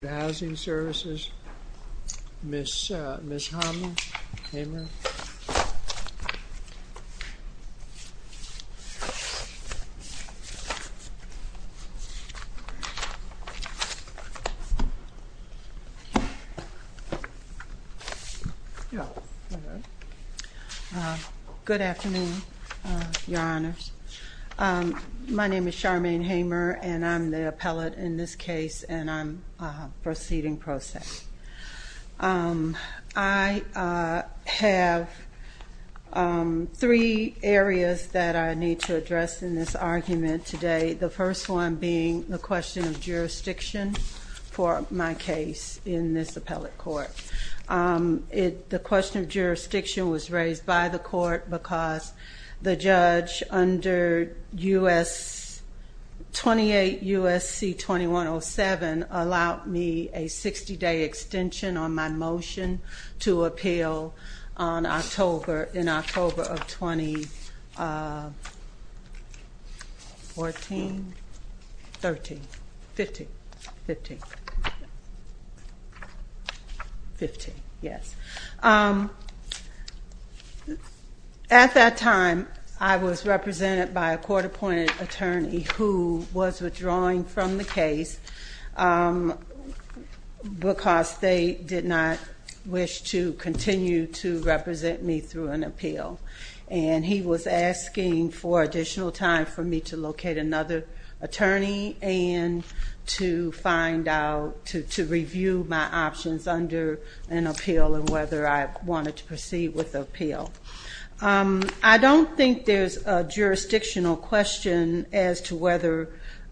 Neighborhood Housing Services, Ms. Hamer. Good afternoon, Your Honors. My name is Charmaine Hamer, and I'm the proceeding process. I have three areas that I need to address in this argument today. The first one being the question of jurisdiction for my case in this appellate court. The question of jurisdiction was raised by the court because the judge under 28 U.S.C. 2107 allowed me to make a decision on the 60-day extension on my motion to appeal in October of 2014. At that time, I was represented by a court-appointed attorney who was withdrawing from the case. Because they did not wish to continue to represent me through an appeal. And he was asking for additional time for me to locate another attorney and to review my options under an appeal and whether I wanted to proceed with the appeal. I don't think there's a jurisdictional question as to whether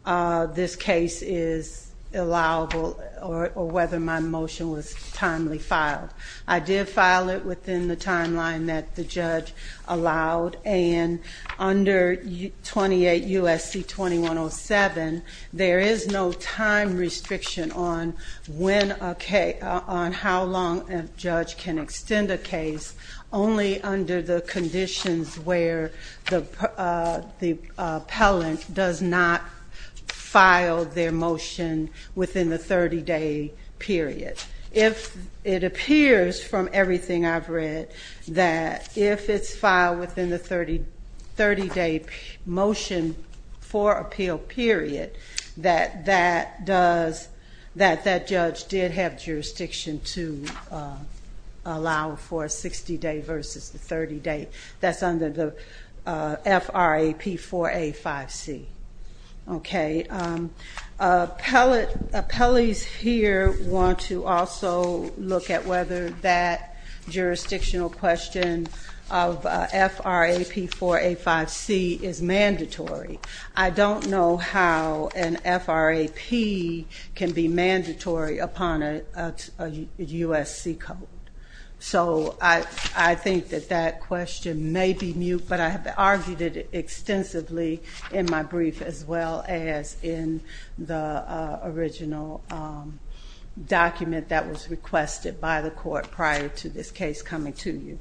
this case is allowable or whether my motion was timely filed. I did file it within the timeline that the judge allowed. And under 28 U.S.C. 2107, there is no time restriction on how long a judge can extend a case only under the conditions where the appellant does not file their motion within the 30-day period. If it appears from everything I've read that if it's filed within the 30-day motion for appeal period, that that judge did have jurisdiction to allow for a 60-day versus the 30-day. That's under the FRAP-4A-5C. Okay. Appellees here want to also look at whether that jurisdictional question of FRAP-4A-5C is mandatory. I don't know how an FRAP can be mandatory upon a U.S.C. code. So I think that that question may be mute, but I have argued it extensively in my brief as well as in the original document that was requested by the court prior to this case coming to you.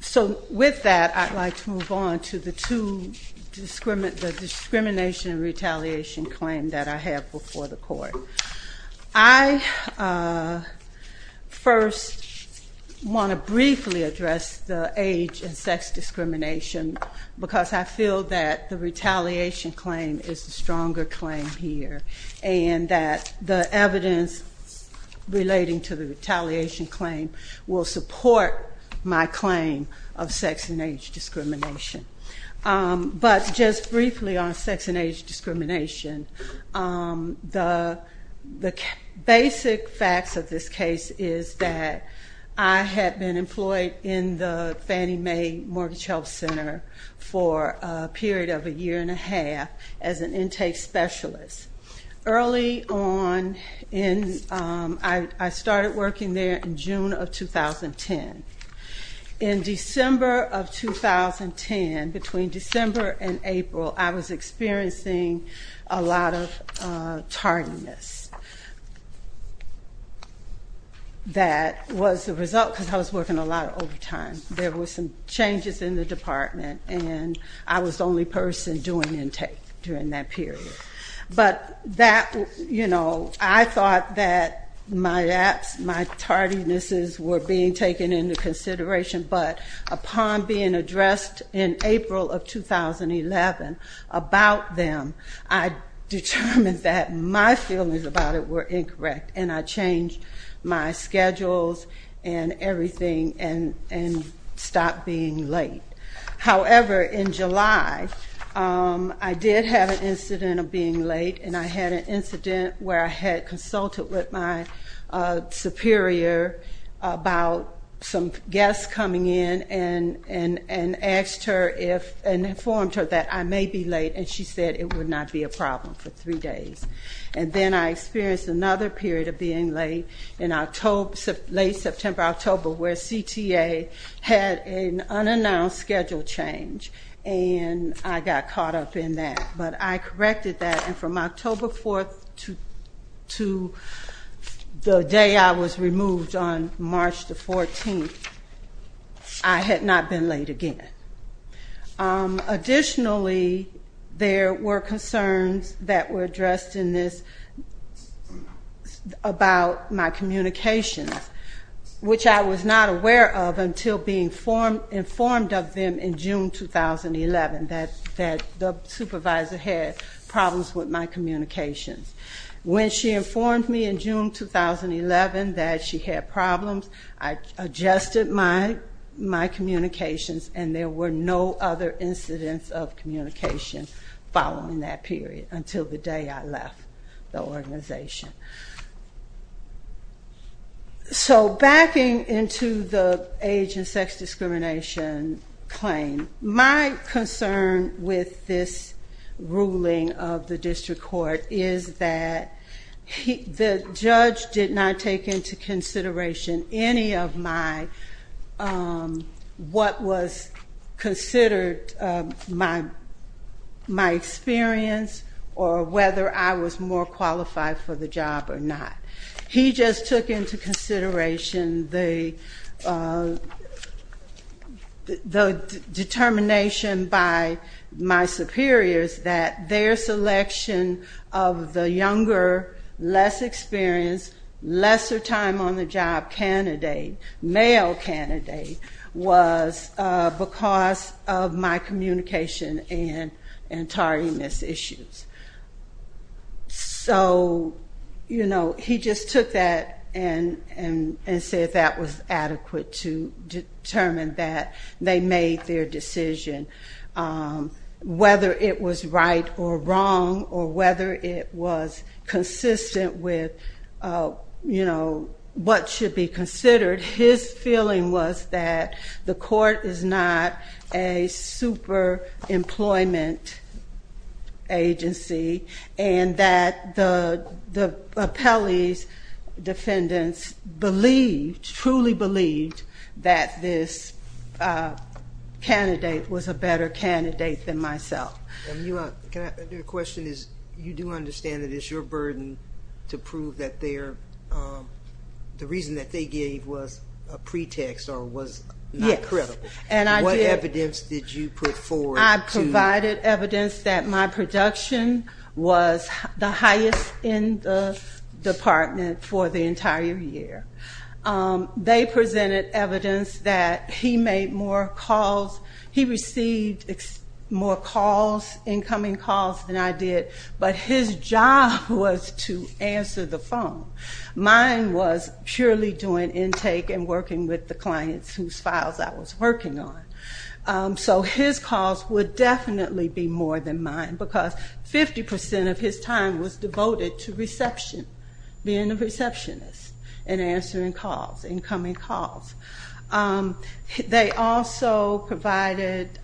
So with that, I'd like to move on to the discrimination and retaliation claim that I have before the court. I want to briefly address the age and sex discrimination because I feel that the retaliation claim is the stronger claim here and that the evidence relating to the retaliation claim will support my claim of sex and age discrimination. But just briefly on sex and age discrimination, the basic facts of this case is that I had been employed in the Fannie Mae Mortgage Health Center for a period of a year and a half as an intake specialist. Early on, I started working there in June of 2010. In December of 2010, between December and April, I was experiencing a lot of tardiness. That was the result because I was working a lot of overtime. There were some changes in the department and I was the only person doing intake during that period. I thought that my tardinesses were being taken into consideration, but upon being addressed in April of 2011 about them, I determined that my feelings about it were incorrect and I changed my schedules and everything and stopped being late. However, in July, I did have an incident of being late and I had an incident where I had consulted with my superior about some guests coming in and asked her and informed her that I may be late and she said it would not be a problem for three days. And then I experienced another period of being late in late September, October where CTA had an unannounced schedule change and I got caught up in that. But I corrected that and from October 4th to the day I was removed on March 14th, I had not been late again. Additionally, there were concerns that were addressed in this about my communications, which I was not aware of until being informed of them in June 2011 that the supervisor had problems with my communications. When she informed me in June 2011 that she had problems, I adjusted my communications and there were no other incidents of communication following that period until the day I left the organization. So, backing into the age and sex discrimination claim, my concern with this ruling of the district court is that the judge did not take into consideration any of my, what was considered to be my age and sex discrimination and did not consider my experience or whether I was more qualified for the job or not. He just took into consideration the determination by my superiors that their selection of the younger, less experienced, lesser time on the job candidate, male candidate, was because of my age and sex discrimination. Because of my communication and tardiness issues. So, you know, he just took that and said that was adequate to determine that they made their decision. Whether it was right or wrong or whether it was consistent with, you know, what should be considered, his feeling was that the court is not a super employment agency and that the appellee's defendants believed, truly believed, that this candidate was a better candidate than myself. And your question is, you do understand that it's your burden to prove that their, the reason that they gave was a pretext or was not credible. What evidence did you put forward? I provided evidence that my production was the highest in the department for the entire year. They presented evidence that he made more calls, he received more calls, incoming calls than I did. But his job was to answer the phone. And working with the clients whose files I was working on. So his calls would definitely be more than mine because 50% of his time was devoted to reception, being a receptionist and answering calls, incoming calls. They also provided,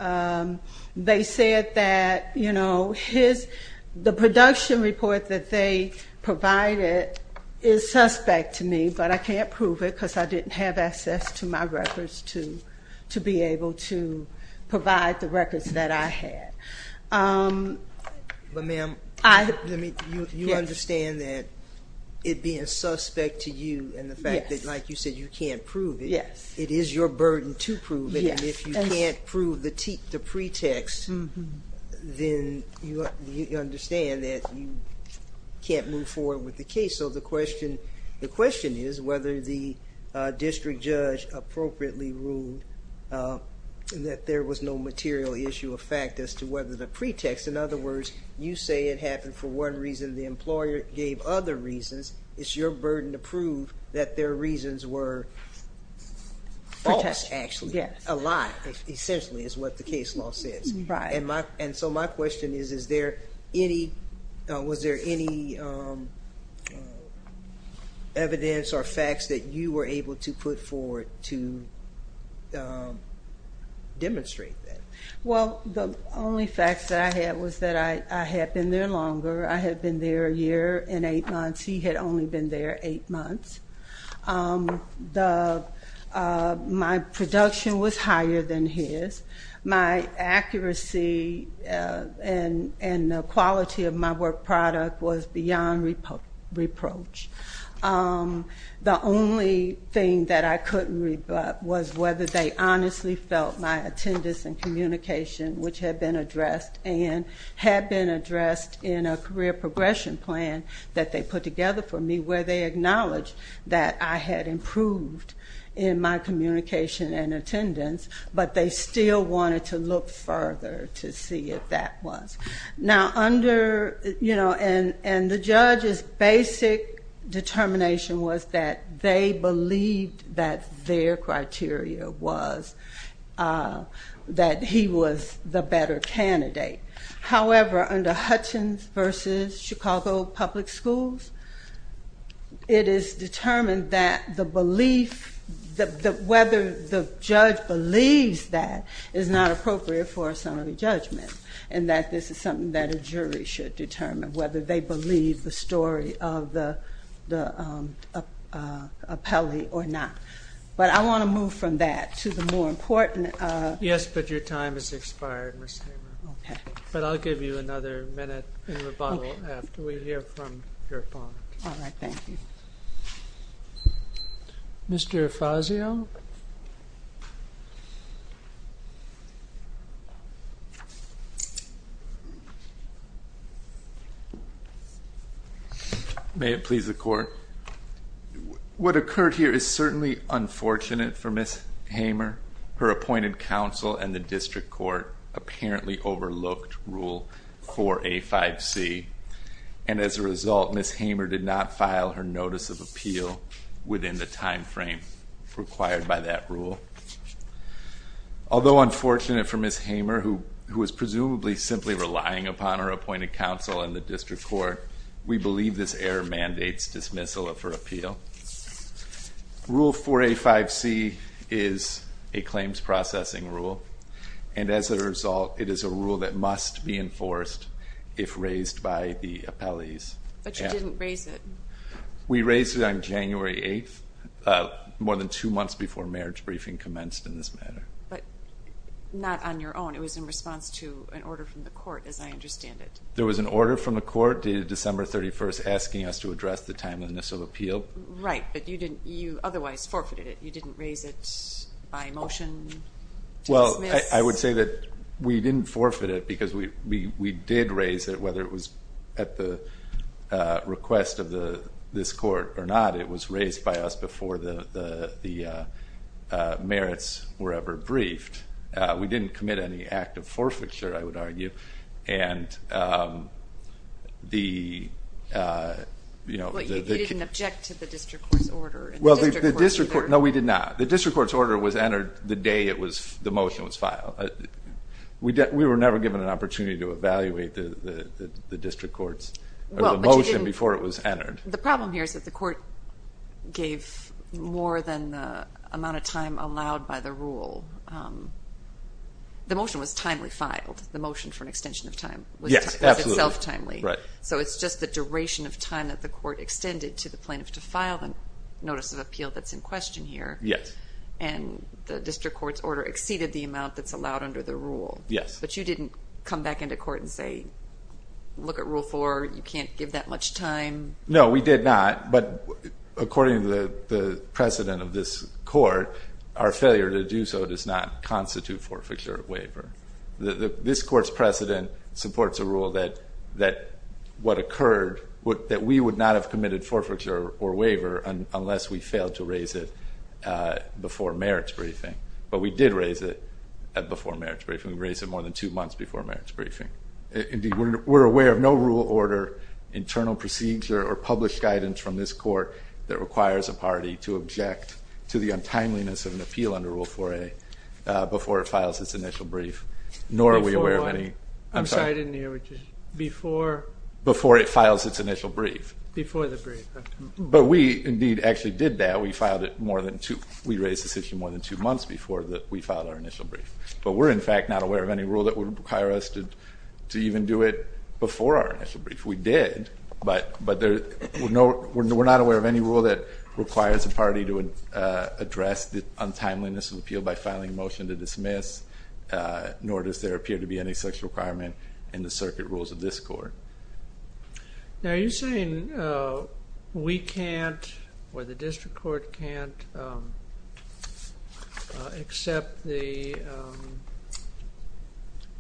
they said that, you know, his, the production report that they provided is suspect to me, but I can't prove it because I didn't have it. I didn't have access to my records to be able to provide the records that I had. But ma'am, you understand that it being suspect to you and the fact that, like you said, you can't prove it, it is your burden to prove it. And if you can't prove the pretext, then you understand that you can't move forward with the case. So the question, the question is whether the district judge appropriately ruled that there was no material issue of fact as to whether the pretext. In other words, you say it happened for one reason, the employer gave other reasons. It's your burden to prove that their reasons were false, actually. A lie, essentially, is what the case law says. And so my question is, is there any, was there any evidence or facts that you were able to put forward to demonstrate that? Well, the only facts that I had was that I had been there longer. I had been there a year and eight months. He had only been there eight months. The, my production was higher than his. My accuracy and the quality of my work product was beyond reproach. The only thing that I couldn't rebut was whether they honestly felt my attendance and communication, which had been addressed, and had been addressed in a career progression plan that they put together for me, where they acknowledged that I had improved in my communication and attendance, but they still wanted to look further to see if that was. Now under, you know, and the judge's basic determination was that they believed that their criteria was that he was the better candidate. However, under Hutchins versus Chicago Public Schools, it is determined that the belief that the, whether the judge believes that is not appropriate for a summary judgment and that this is something that a jury should determine, whether they believe the story of the, the appellee or not. But I want to move from that to the more important. But I'll give you another minute in rebuttal after we hear from your opponent. All right. Thank you. May it please the court. What occurred here is certainly unfortunate for Miss Hamer. She did not file her notice of appeal within the timeframe required by that rule. Although unfortunate for Miss Hamer, who was presumably simply relying upon her appointed counsel in the district court, we believe this error mandates dismissal of her appeal. It must be enforced if raised by the appellees. But you didn't raise it. We raised it on January 8th, more than two months before marriage briefing commenced in this matter. But not on your own. It was in response to an order from the court, as I understand it. There was an order from the court dated December 31st asking us to address the timeliness of appeal. Right. But you didn't, you otherwise forfeited it. You didn't raise it by motion to dismiss. Well, I would say that we didn't forfeit it because we did raise it, whether it was at the request of this court or not. It was raised by us before the merits were ever briefed. We didn't commit any act of forfeiture, I would argue. But you didn't object to the district court's order. No, we did not. The district court's order was entered the day the motion was filed. We were never given an opportunity to evaluate the motion before it was entered. The problem here is that the court gave more than the amount of time allowed by the rule. The motion was timely filed. The motion for an extension of time was itself timely. So it's just the duration of time that the court extended to the plaintiff to file the notice of appeal that's in question here. And the district court's order exceeded the amount that's allowed under the rule. But you didn't come back into court and say, look at Rule 4, you can't give that much time? No, we did not. But according to the precedent of this court, our failure to do so does not constitute forfeiture or waiver. This court's precedent supports a rule that what occurred, that we would not have committed forfeiture or waiver unless we failed to raise it before merits briefing. But we did raise it before merits briefing. We raised it more than two months before merits briefing. We're aware of no rule order, internal procedure, or published guidance from this court that requires a party to object to the untimeliness of an appeal under Rule 4a before it files its initial brief. Before what? I'm sorry, I didn't hear what you said. Before we filed our initial brief. But we're, in fact, not aware of any rule that would require us to even do it before our initial brief. We did, but we're not aware of any rule that requires a party to address the untimeliness of an appeal by filing a motion to dismiss, nor does there appear to be any such requirement in the circuit rules of this court. Now are you saying we can't, or the district court can't, accept the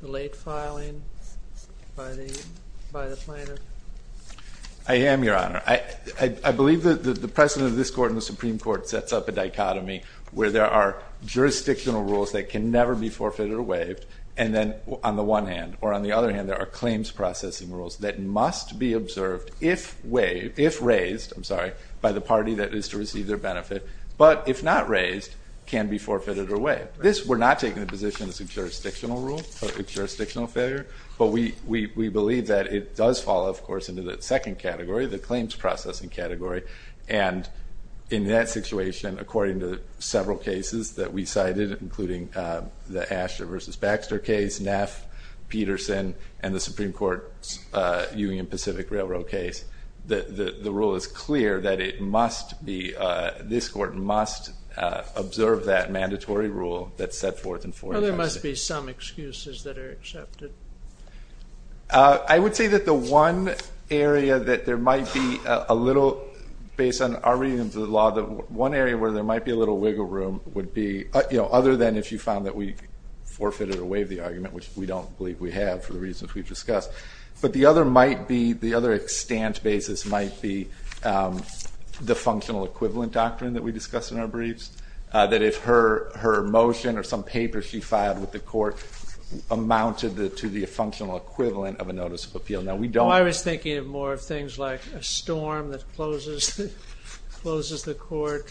late filing by the planner? I am, Your Honor. I believe that the precedent of this court and the Supreme Court sets up a dichotomy where there are jurisdictional rules that can never be forfeited or waived, and then on the one hand, or on the other hand, there are claims processing rules that must be observed if waived, if raised, I'm sorry, by the party that is to receive their benefit, but if not raised, can be forfeited or waived. This, we're not taking the position it's a jurisdictional rule, a jurisdictional failure, but we believe that it does fall, of course, into the second category, the claims processing category, and in that situation, according to several cases that we cited, including the Asher v. Baxter case, Neff, Peterson, and the Supreme Court Union Pacific Railroad case, the rule is clear that it must be, this court must observe that mandatory rule that's set forth in 456. There must be some excuses that are accepted. I would say that the one area that there might be a little, based on our reading of the law, one area where there might be a little wiggle room would be, other than if you found that we forfeited or waived the argument, which we don't believe we have for the reasons we've discussed, but the other might be, the other extent basis might be the functional equivalent doctrine that we discussed in our briefs, that if her motion or some paper she filed with the court amounted to the functional equivalent of a notice of appeal. I was thinking of more of things like a storm that closes the court.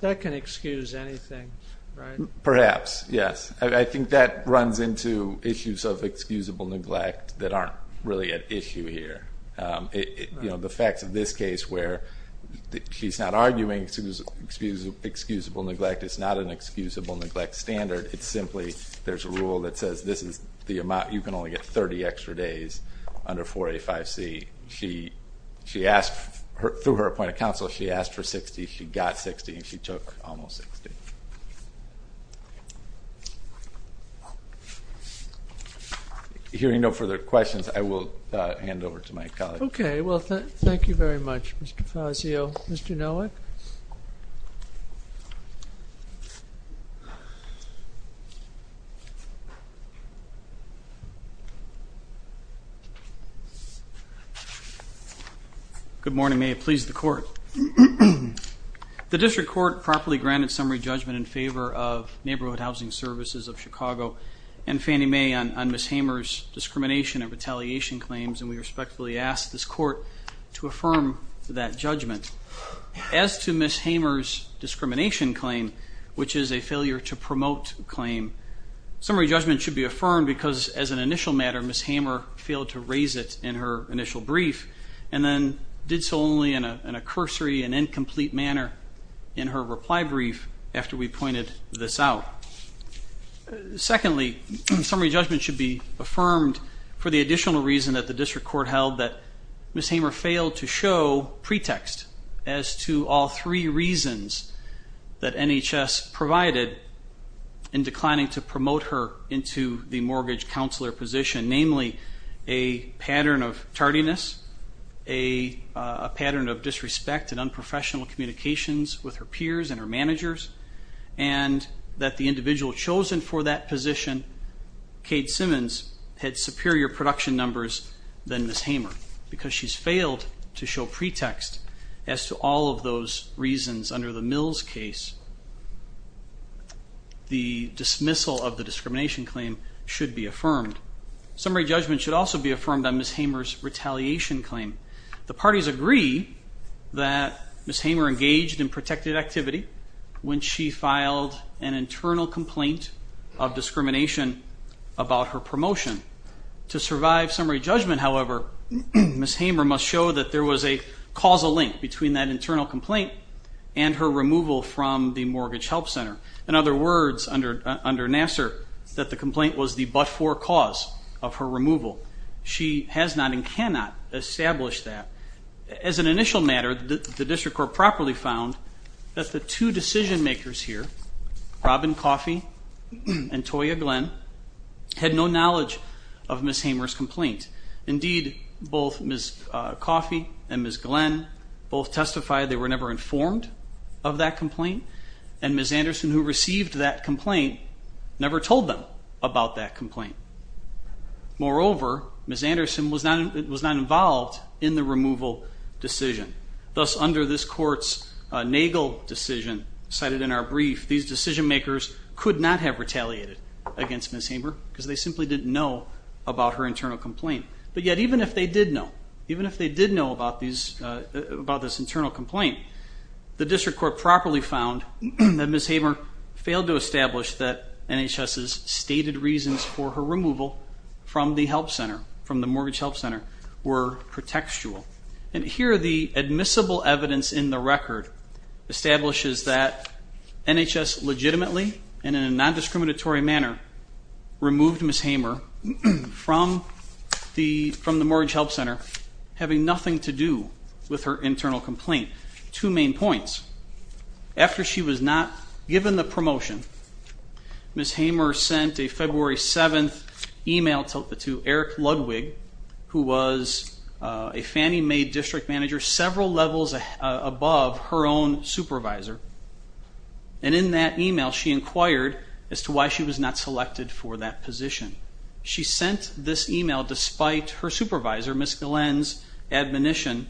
That can excuse anything, right? Perhaps, yes. I think that runs into issues of issue here. The facts of this case where she's not arguing excusable neglect, it's not an excusable neglect standard, it's simply there's a rule that says this is the amount, you can only get 30 extra days under 485C. She asked, through her appointed counsel, she asked for 60, she got 60, and she took almost 60. Hearing no further questions, I will hand over to my colleague. Thank you very much, Mr. Fazio. Mr. Nowak? Good morning. May it please the court. The district court properly granted summary judgment in favor of Neighborhood Housing Services of Chicago and Fannie Mae on Ms. Hamer's discrimination and retaliation claims, and we respectfully ask this court to affirm that judgment. As to Ms. Hamer's discrimination claim, which is a failure to promote claim, summary judgment should be affirmed because, as an initial matter, Ms. Hamer failed to raise it in her initial brief, and then did so only in a cursory and incomplete manner in her reply brief after we pointed this out. Secondly, summary judgment should be affirmed for the additional reason that the district court held that Ms. Hamer failed to show pretext as to all three reasons that NHS provided in declining to promote her into the mortgage counselor position, namely a pattern of tardiness, a pattern of disrespect and unprofessional communications with her peers and her managers, and that the individual chosen for that position, Kate Simmons, had superior production numbers than Ms. Hamer because she's failed to show pretext as to all of those reasons under the Mills case. The dismissal of the discrimination claim should be affirmed. Summary judgment should also be affirmed on Ms. Hamer's retaliation claim. The parties agree that Ms. Hamer engaged in protected activity when she filed an internal complaint of discrimination about her promotion. To survive summary judgment, however, Ms. Hamer must show that there was a causal link between that internal complaint and her removal from the Mortgage Help Center. In other words, under Nassar, that the complaint was the but-for cause of her Initial matter, the district court properly found that the two decision makers here, Robin Coffey and Toya Glenn, had no knowledge of Ms. Hamer's complaint. Indeed, both Ms. Coffey and Ms. Glenn both testified they were never informed of that complaint, and Ms. Anderson, who received Ms. Anderson was not involved in the removal decision. Thus, under this court's Nagel decision, cited in our brief, these decision makers could not have retaliated against Ms. Hamer because they simply didn't know about her internal complaint. But yet, even if they did know about this internal complaint, the district court properly found that Ms. Hamer failed to establish that NHS's stated reasons for her removal from the help center, from the Mortgage Help Center, were pretextual. And here, the admissible evidence in the record establishes that NHS legitimately, and in a non-discriminatory manner, removed Ms. Hamer from the Mortgage Help Center, having nothing to do with her internal complaint. Two main points. After she was not given the promotion, Ms. Hamer sent a February 7th email to Eric Ludwig, who was a Fannie Mae district manager several levels above her own supervisor. And in that email, she inquired as to why she was not selected for that position. She sent this email despite her supervisor, Ms. Glenn's admonition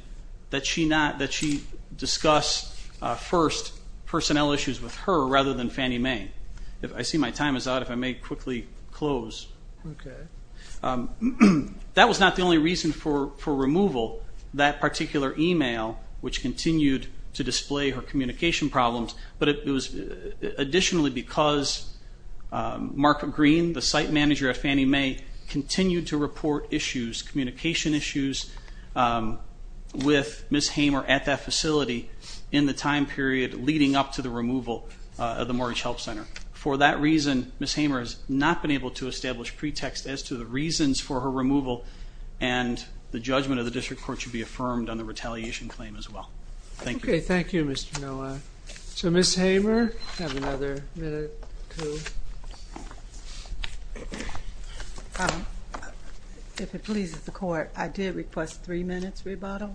that she discuss first personnel issues with her rather than Fannie Mae. I see my time is out, if I may quickly close. That was not the only reason for removal. That particular email, which continued to display her communication problems, but it was additionally because Mark Green, the site manager at Fannie Mae, continued to report issues, communication issues, with Ms. Hamer at that facility in the time period leading up to the removal of the Mortgage Help Center. For that reason, Ms. Hamer has not been able to establish pretext as to the reasons for her removal and the judgment of the district court should be affirmed on the retaliation claim as well. Thank you. Okay, thank you, Mr. Noah. So Ms. Hamer, you have another minute or two. If it pleases the court, I did request three minutes rebuttal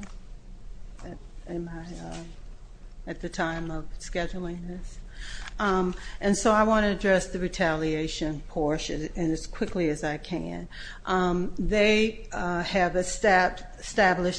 at the time of scheduling this. And so I want to address the retaliation portion as quickly as I can. They have established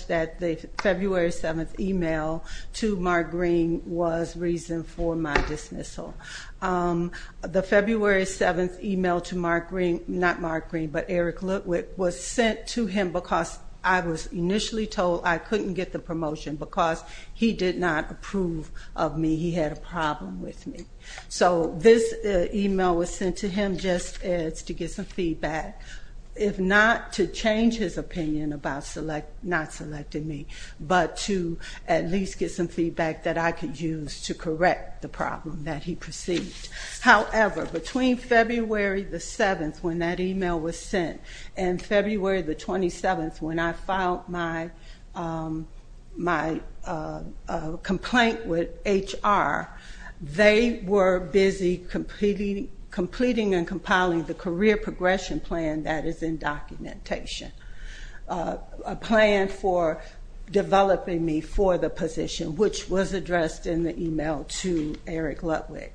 that the February 7th email to Mark Green was reason for my dismissal. The February 7th email to Mark Green, not Mark Green, but Eric Litwick, was sent to him because I was initially told I couldn't get the promotion because he did not approve of me. He had a problem with me. So this email was sent to him just to get some feedback, if not to change his opinion about not selecting me, but to at least get some feedback that I could use to correct the problem that he perceived. However, between February 7th, when that email was sent, and February 27th, when I filed my complaint with HR, they were busy completing and compiling the career progression plan that is in documentation. A plan for developing me for the position, which was addressed in the email to Eric Litwick.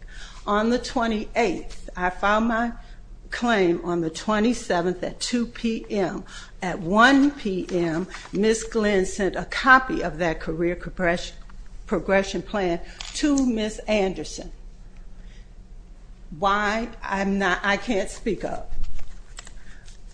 On the 28th, I filed my claim on the 27th at 2 p.m. At 1 p.m., Ms. Glenn sent a copy of that career progression plan to Ms. Anderson. Why? I can't speak of.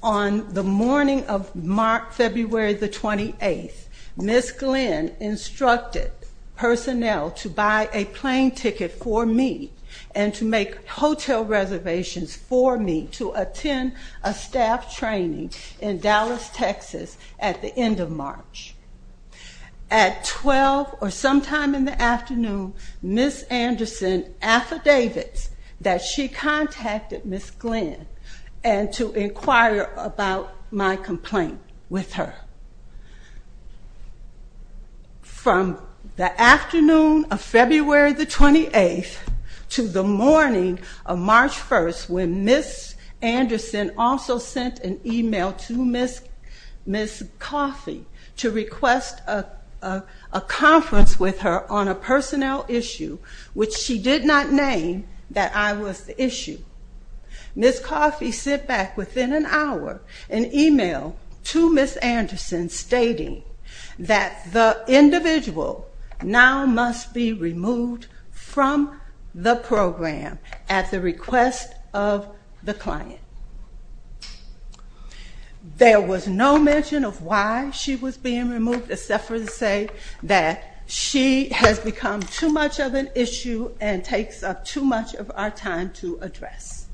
On the morning of February 28th, Ms. Glenn instructed personnel to buy a plane ticket for me and to make hotel reservations for me to attend a staff training in Dallas, Texas at the end of March. At 12 or sometime in the afternoon, Ms. Anderson affidavits that she contacted Ms. Glenn to inquire about my complaint with her. From the afternoon of February 28th to the morning of March 1st, when Ms. Anderson also sent an email to Ms. Coffey to request a conference with her on a personnel issue, which she did not name that I was the issue. Ms. Coffey sent back within an hour an email to Ms. Anderson stating that the individual now must be removed from the program at the request of the client. There was no mention of why she was being removed, except for to say that she has become too much of an issue and takes up too much of our time to address.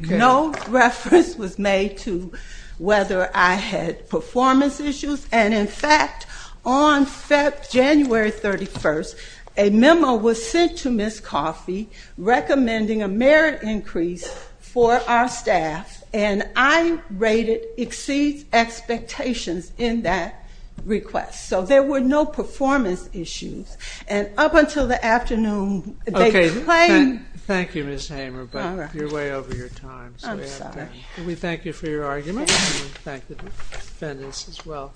No reference was made to whether I had performance issues, and in fact, on January 31st, a memo was sent to Ms. Coffey recommending a merit increase for our staff and I rated exceeds expectations in that request. So there were no performance issues. Thank you Ms. Hamer, but you're way over your time. We thank you for your argument and thank the defendants as well.